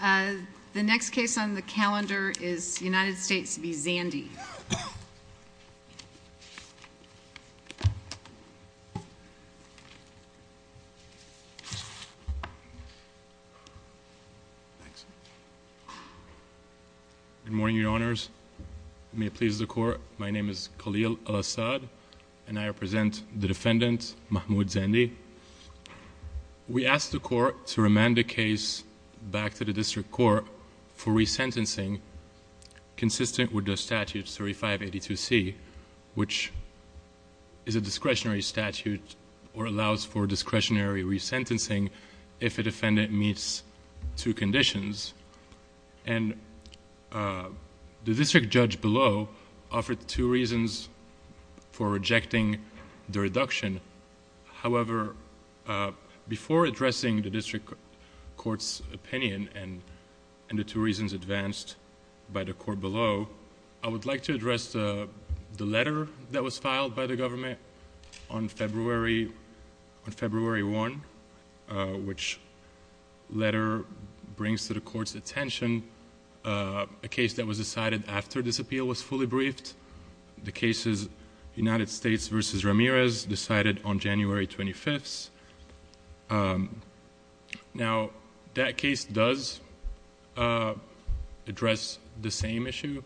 The next case on the calendar is United States v. Zandi. Good morning, your honors. May it please the court, my name is Khalil Al-Assad and I call back to the district court for resentencing consistent with the statute 3582C, which is a discretionary statute or allows for discretionary resentencing if a defendant meets two conditions. The district judge below offered two reasons for rejecting the reduction. However, before addressing the district court's opinion and the two reasons advanced by the court below, I would like to address the letter that was filed by the government on February 1, which letter brings to the court's attention a case that was decided after this appeal was fully Now, that case does address the same issue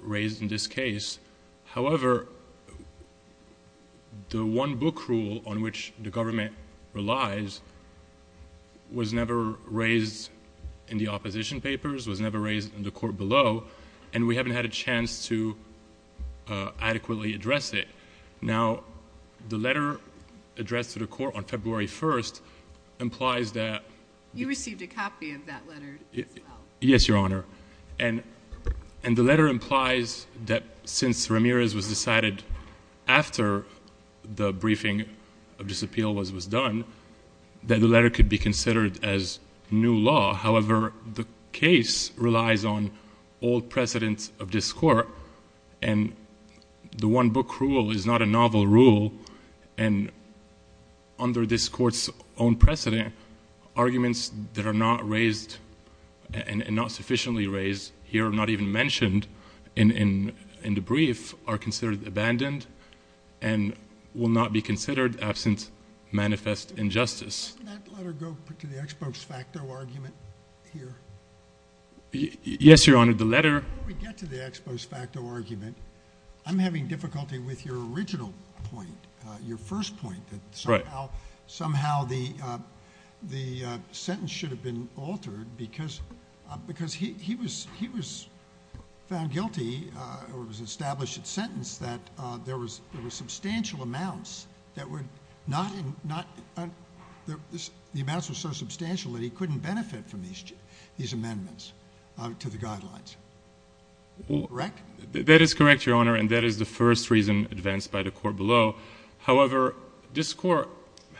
raised in this case. However, the one book rule on which the government relies was never raised in the opposition papers, was never raised in the court below, and we haven't had a chance to adequately address it. Now, the letter addressed to the court on February 1 implies that... You received a copy of that letter as well. Yes, your honor. And the letter implies that since Ramirez was decided after the briefing of this appeal was done, that the letter could be considered as new law. However, the case relies on old precedents of this court, and the one book rule is not a novel rule, and under this court's own precedent, arguments that are not raised and not sufficiently raised here or not even mentioned in the brief are considered abandoned and will not be considered absent manifest injustice. Can that letter go to the ex post facto argument here? Yes, your honor. The letter... Before we get to the ex post facto argument, I'm having difficulty with your original point, your first point, that somehow the sentence should have been altered because he was found guilty, or it was established in sentence, that there were substantial amounts that were not... The amounts were so substantial that he couldn't benefit from these amendments to the guidelines. Correct? That is correct, your honor, and that is the first reason advanced by the court below. However, this court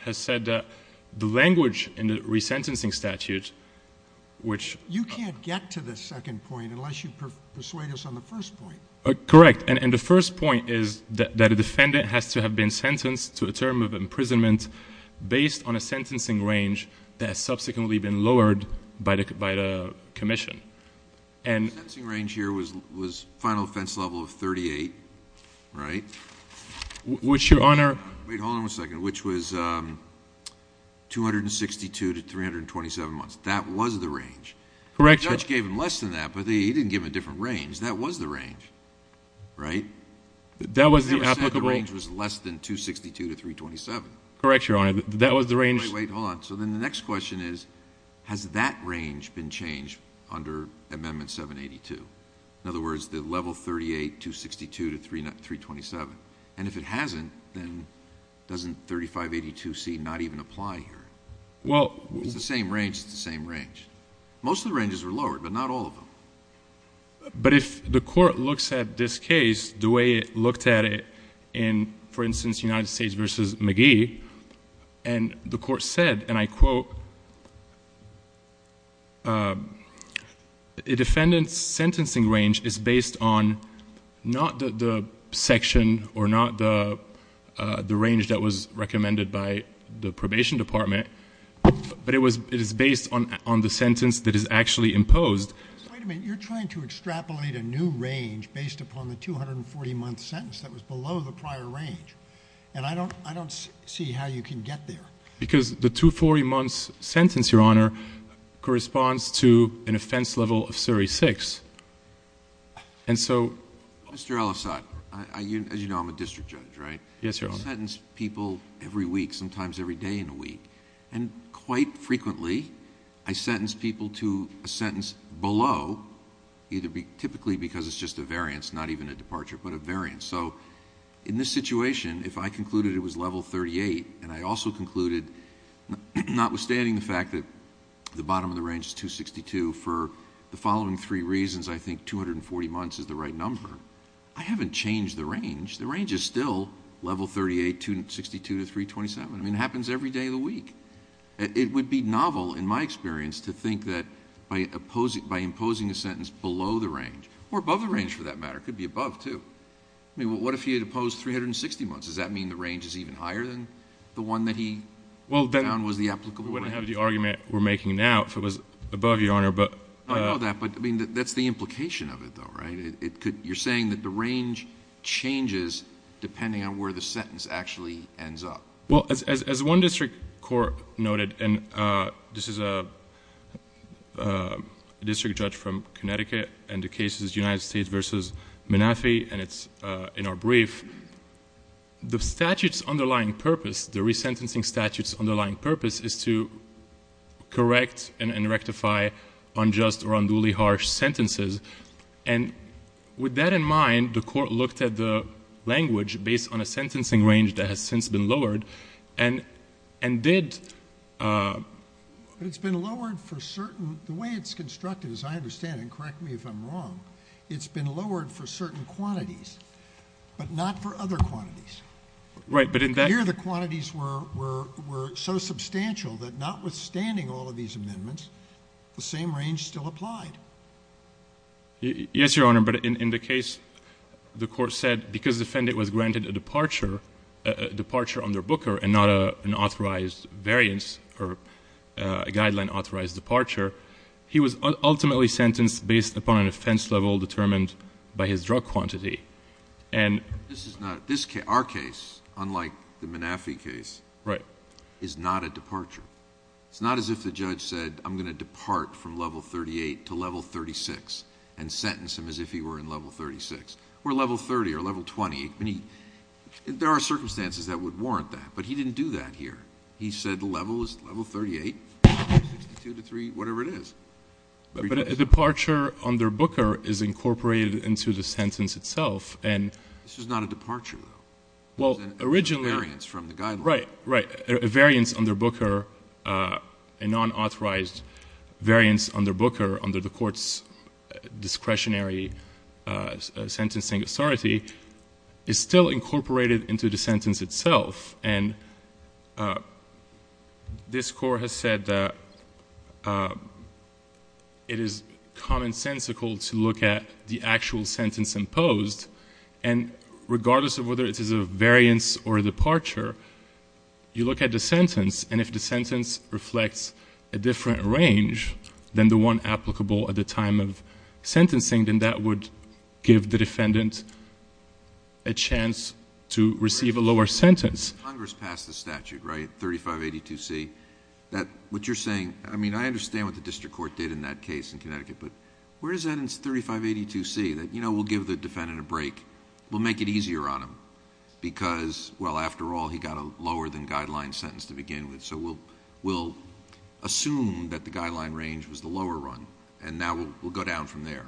has said that the language in the resentencing statute, which... You can't get to the second point unless you persuade us on the first point. Correct, and the first point is that a defendant has to have been sentenced to a term of imprisonment based on a sentencing range that has subsequently been lowered by the commission. The sentencing range here was final offense level of 38, right? Which, your honor... Wait, hold on a second. Which was 262 to 327 months. That was the range. Correct. The judge gave him less than that, but he didn't give him a different range. That was the range. Right? That was the applicable... The judge said the range was less than 262 to 327. Correct, your honor. That was the range... Wait, hold on. So then the next question is, has that range been changed under amendment 782? In other words, the level 38, 262 to 327. And if it hasn't, then doesn't 3582c not even apply here? Well... It's the same range. It's the same range. Most of the ranges were lowered, but not all of them. But if the court looks at this case the way it looked at it in, for instance, United States v. McGee, and the court said, and I quote, a defendant's sentencing range is based on not the section or not the range that was recommended by the probation department, but it is based on the sentence that is actually imposed. Wait a minute. You're trying to extrapolate a new range based upon the 240-month sentence that was below the prior range. And I don't see how you can get there. Because the 240-month sentence, your honor, corresponds to an offense level of 36. And so... Mr. Ellisott, as you know, I'm a district judge, right? Yes, your honor. I sentence people every week, sometimes every day in a week. And quite frequently, I sentence people to a sentence below, typically because it's just a variance, not even a departure, but a variance. So in this situation, if I concluded it was level 38, and I also concluded, notwithstanding the fact that the bottom of the range is 262, for the following three reasons I think 240 months is the right number, I haven't changed the range. The range is still level 38, 262 to 327. I mean, it happens every day of the week. It would be novel, in my experience, to think that by imposing a sentence below the range, or above the range for that matter, it could be above too. I mean, what if he had imposed 360 months? Does that mean the range is even higher than the one that he found was the applicable range? Well, then we wouldn't have the argument we're making now if it was above, your honor, but... I know that, but I mean, that's the implication of it, though, right? You're saying that the range changes depending on where the sentence actually ends up. Well, as one district court noted, and this is a district judge from Connecticut, and the case is United States v. Manafi, and it's in our brief, the statute's underlying purpose, the resentencing statute's underlying purpose, is to correct and rectify unjust or unduly harsh sentences. And with that in mind, the court looked at the language based on a sentencing range that has since been lowered and did... But it's been lowered for certain... The way it's constructed, as I understand it, and correct me if I'm wrong, it's been lowered for certain quantities, but not for other quantities. Right, but in that... Here, the quantities were so substantial that notwithstanding all of these amendments, the same range still applied. Yes, your honor, but in the case the court said, because the defendant was granted a departure under Booker and not an authorized variance or a guideline authorized departure, he was ultimately sentenced based upon an offense level determined by his drug quantity. This is not... Our case, unlike the Manafi case, is not a departure. It's not as if the judge said, I'm going to depart from level 38 to level 36 and sentence him as if he were in level 36 or level 30 or level 20. I mean, there are circumstances that would warrant that, but he didn't do that here. He said the level is level 38, 62 to 3, whatever it is. But a departure under Booker is incorporated into the sentence itself and... This is not a departure, though. Well, originally... It's a variance from the guideline. Right, right. A variance under Booker, a non-authorized variance under Booker under the court's discretionary sentencing authority is still incorporated into the sentence itself. And this court has said that it is commonsensical to look at the actual sentence imposed and regardless of whether it is a variance or a departure, you look at the sentence and if the sentence reflects a different range than the one applicable at the time of sentencing, then that would give the defendant a chance to receive a lower sentence. Congress passed the statute, right? 3582C. What you're saying... I mean, I understand what the district court did in that case in Connecticut, but where is that in 3582C? That, you know, we'll give the defendant a break, we'll make it easier on him because, well, after all, he got a lower-than-guideline sentence to begin with, so we'll assume that the guideline range was the lower run and now we'll go down from there.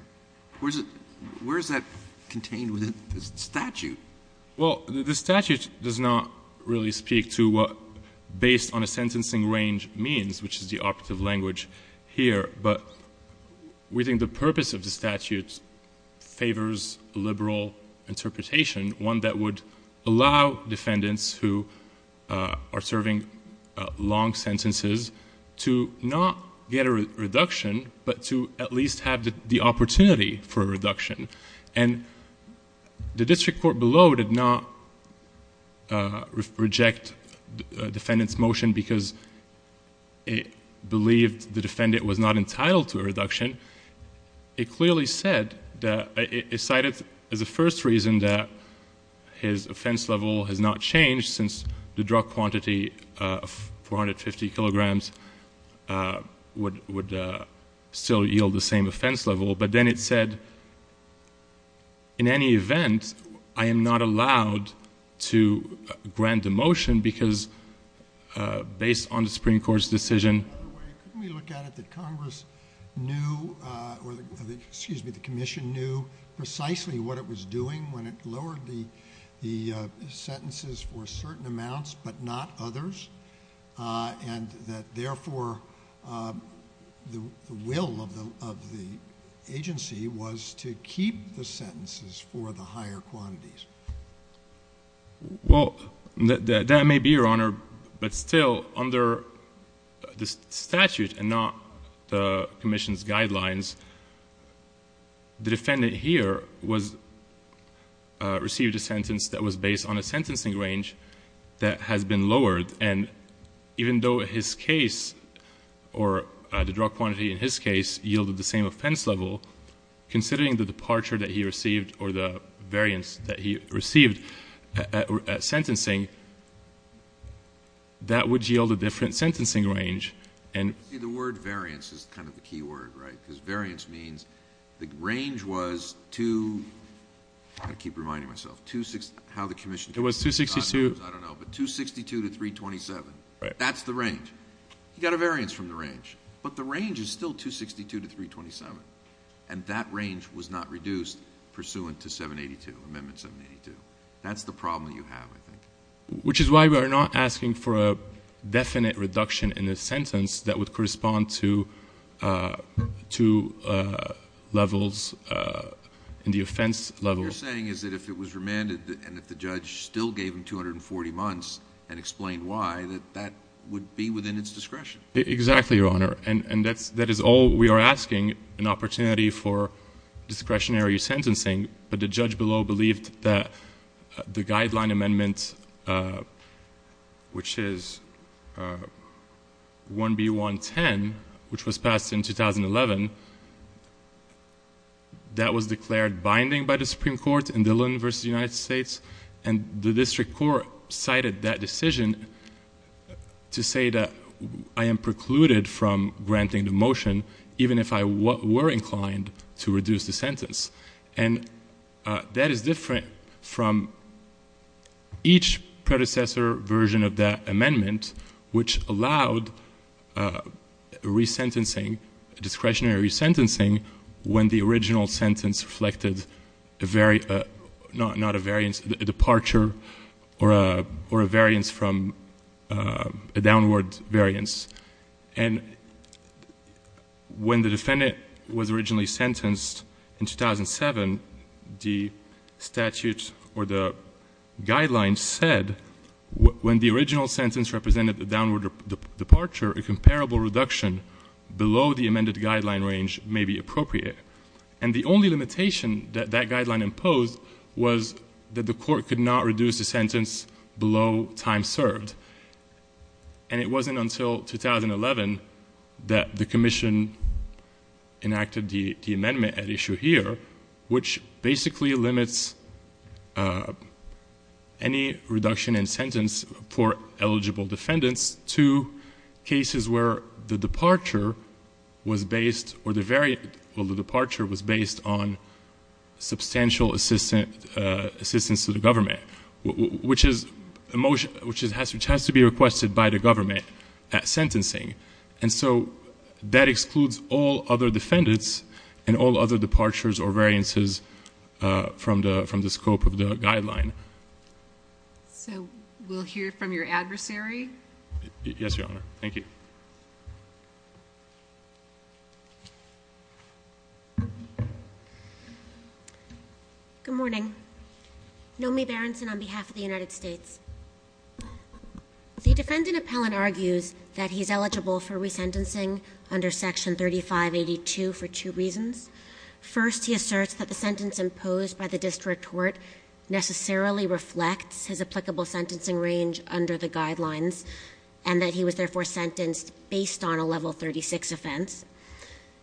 Where is that contained within the statute? Well, the statute does not really speak to what based on a sentencing range means, which is the operative language here, but we think the purpose of the statute favors a liberal interpretation, one that would allow defendants who are serving long sentences to not get a reduction but to at least have the opportunity for a reduction. And the district court below did not reject the defendant's motion because it believed the defendant was not entitled to a reduction. It clearly said that... It cited as the first reason that his offense level has not changed since the drug quantity of 450 kilograms would still yield the same offense level, but then it said, in any event, I am not allowed to grant the motion because based on the Supreme Court's decision... Could we look at it that Congress knew, or excuse me, the commission knew precisely what it was doing when it lowered the sentences for certain amounts but not others and that therefore the will of the agency was to keep the sentences for the higher quantities? Well, that may be, Your Honor, but still under the statute and not the commission's guidelines, the defendant here received a sentence that was based on a sentencing range that has been lowered and even though his case or the drug quantity in his case yielded the same offense level, considering the departure that he received or the variance that he received at sentencing, that would yield a different sentencing range. The word variance is kind of the key word, right? Because variance means the range was to... I keep reminding myself how the commission... It was 262... I don't know, but 262 to 327. That's the range. He got a variance from the range, but the range is still 262 to 327 and that range was not reduced pursuant to 782, Amendment 782. That's the problem you have, I think. Which is why we are not asking for a definite reduction in the sentence that would correspond to levels in the offense level. What you're saying is that if it was remanded and if the judge still gave him 240 months and explained why, that that would be within its discretion. Exactly, Your Honor. And that is all we are asking, an opportunity for discretionary sentencing, but the judge below believed that the guideline amendment, which is 1B.1.10, which was passed in 2011, that was declared binding by the Supreme Court in Dillon v. United States and the district court cited that decision to say that I am precluded from granting the motion even if I were inclined to reduce the sentence. And that is different from each predecessor version of that amendment, which allowed re-sentencing, discretionary re-sentencing, when the original sentence reflected a very... not a variance, a departure or a variance from a downward variance. And when the defendant was originally sentenced in 2007, the statute or the guidelines said when the original sentence represented a downward departure, a comparable reduction below the amended guideline range may be appropriate. And the only limitation that that guideline imposed was that the court could not reduce the sentence below time served. And it wasn't until 2011 that the commission enacted the amendment at issue here, which basically limits any reduction in sentence for eligible defendants to cases where the departure was based or the very... where the departure was based on substantial assistance to the government, which has to be requested by the government at sentencing. And so that excludes all other defendants and all other departures or variances from the scope of the guideline. So we'll hear from your adversary? Yes, Your Honor. Thank you. Good morning. Nomi Berenson on behalf of the United States. The defendant appellant argues that he's eligible for resentencing under section 3582 for two reasons. First, he asserts that the sentence imposed by the district court necessarily reflects his applicable sentencing range under the guidelines and that he was therefore sentenced based on a level 36 offense.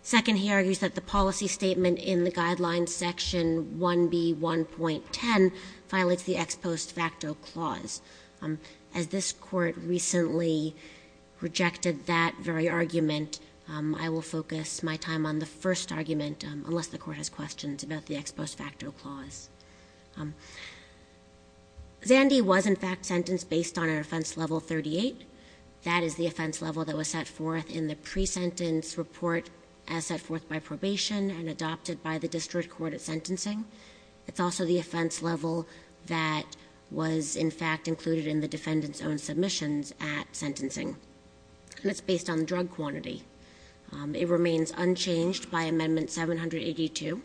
Second, he argues that the policy statement in the guidelines section 1B1.10 violates the ex post facto clause. As this court recently rejected that very argument, I will focus my time on the first argument, unless the court has questions about the ex post facto clause. Zandy was in fact sentenced based on an offense level 38. That is the offense level that was set forth in the pre-sentence report as set forth by probation and adopted by the district court at sentencing. It's also the offense level that was in fact included in the defendant's own submissions at sentencing, and it's based on the drug quantity. It remains unchanged by Amendment 782,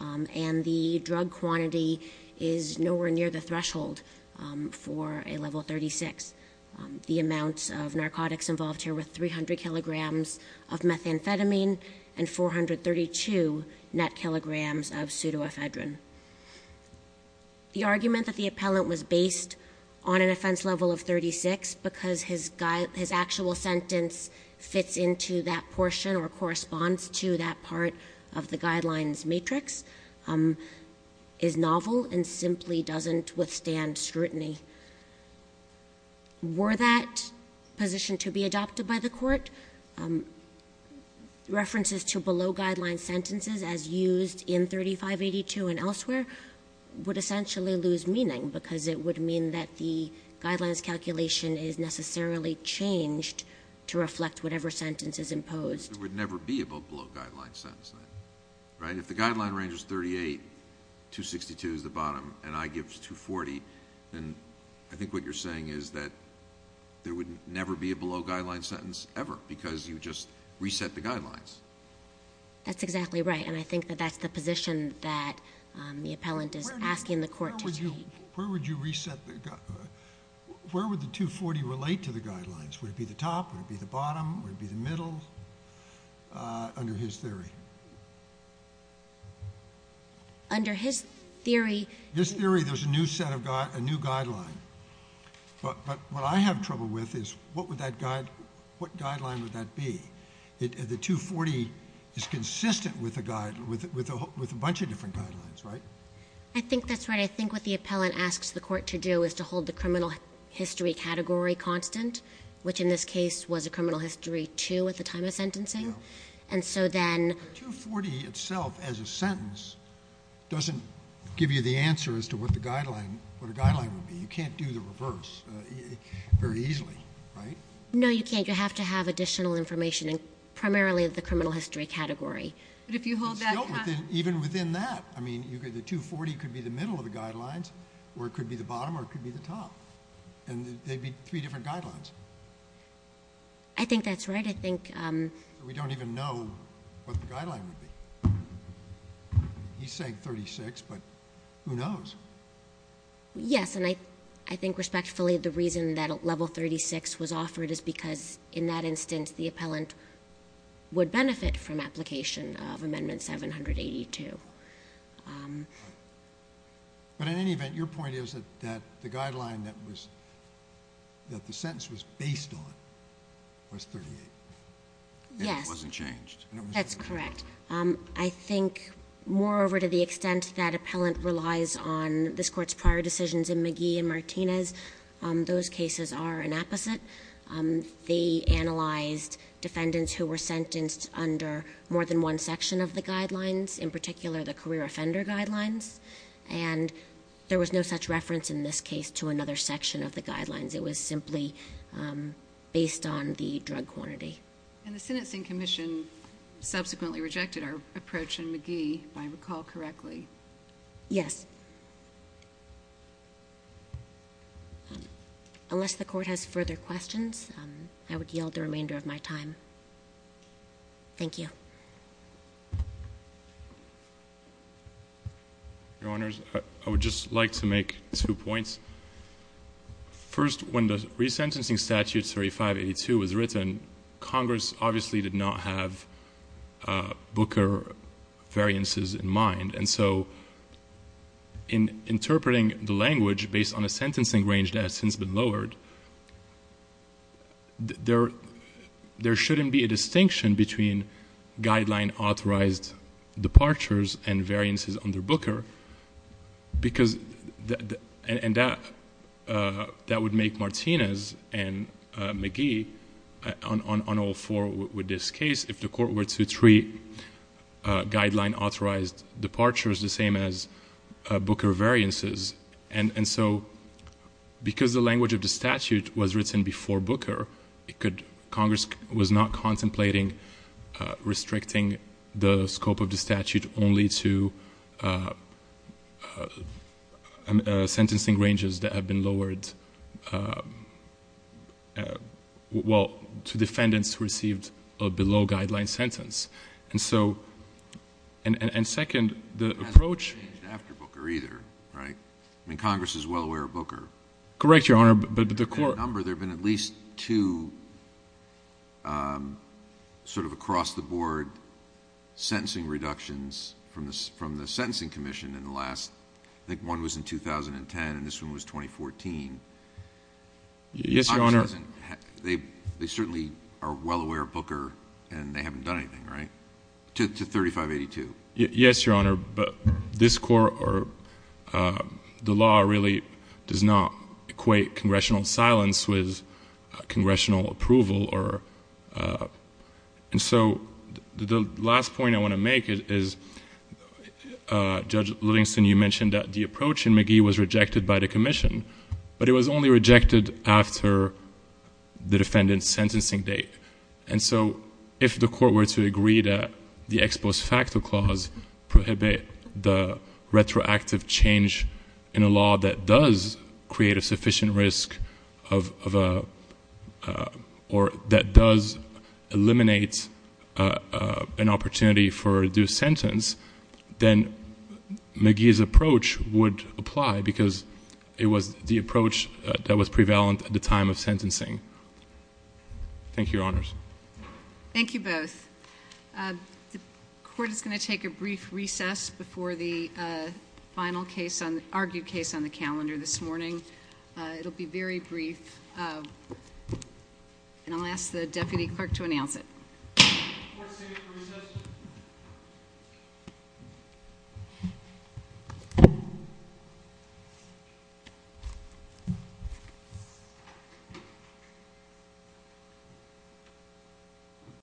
and the drug quantity is nowhere near the threshold for a level 36. The amount of narcotics involved here were 300 kilograms of methamphetamine and 432 net kilograms of pseudoephedrine. The argument that the appellant was based on an offense level of 36 because his actual sentence fits into that portion or corresponds to that part of the guidelines matrix is novel and simply doesn't withstand scrutiny. Were that position to be adopted by the court, references to below-guideline sentences as used in 3582 and elsewhere would essentially lose meaning because it would mean that the guidelines calculation is necessarily changed to reflect whatever sentence is imposed. There would never be a below-guideline sentence then. Right? If the guideline ranges 38, 262 is the bottom, and I gives 240, then I think what you're saying is that there would never be a below-guideline sentence ever because you just reset the guidelines. That's exactly right, and I think that that's the position that the appellant is asking the court to take. Where would you reset the... Where would the 240 relate to the guidelines? Would it be the top? Would it be the bottom? Would it be the middle? Under his theory. Under his theory... His theory, there's a new set of... a new guideline. But what I have trouble with is, what would that guide... what guideline would that be? The 240 is consistent with a bunch of different guidelines, right? I think that's right. I think what the appellant asks the court to do is to hold the criminal history category constant, which in this case was a criminal history 2 at the time of sentencing. And so then... The 240 itself as a sentence doesn't give you the answer as to what the guideline... what a guideline would be. You can't do the reverse very easily, right? No, you can't. You have to have additional information in primarily the criminal history category. But if you hold that constant... Even within that, I mean, the 240 could be the middle of the guidelines or it could be the bottom or it could be the top. And they'd be three different guidelines. I think that's right. I think, um... We don't even know what the guideline would be. He's saying 36, but who knows? Yes, and I think respectfully the reason that level 36 was offered is because in that instance the appellant would benefit from application of Amendment 782. But in any event, your point is that the guideline that was... that the sentence was based on was 38. Yes. And it wasn't changed. That's correct. I think moreover to the extent that appellant relies on this court's prior decisions in McGee and Martinez those cases are an opposite. They analyzed defendants who were sentenced under more than one section of the guidelines in particular the career offender guidelines and there was no such reference in this case to another section of the guidelines. It was simply based on the drug quantity. And the Sentencing Commission subsequently rejected our approach in McGee if I recall correctly. Yes. Unless the court has further questions, I would yield the remainder of my time. Thank you. Your Honors, I would just like to make two points. First, when the resentencing statute 3582 was written, Congress obviously did not have Booker variances in mind and so in interpreting the language based on a sentencing range that has since been lowered there shouldn't be a distinction between guideline authorized departures and variances under Booker because that would make Martinez and McGee on all four with this case, if the court were to treat guideline authorized departures the same as Booker variances and so because the language of the statute was written before Booker Congress was not contemplating restricting the scope of the statute only to sentencing ranges that have been lowered to defendants who received a below and second the approach Congress is well aware of Booker there have been at least two sort of across the board sentencing reductions from the sentencing commission in the last, I think one was in 2010 and this one was 2014 they certainly are well aware of Booker and they haven't done anything right to 3582 yes your honor but this court the law really does not equate congressional silence with congressional approval and so the last point I want to make is Judge Livingston you mentioned that the approach in McGee was rejected by the commission but it was only rejected after the defendants sentencing date and so if the court were to agree that the ex post facto clause prohibit the retroactive change in a law that does create a sufficient risk of a or that does eliminate an opportunity for a due sentence then McGee's approach would apply because it was the approach that was prevalent at the time of thank you your honors thank you both the court is going to take a brief recess before the final case argued case on the calendar this morning it will be very brief and I'll ask the deputy clerk to announce it thank you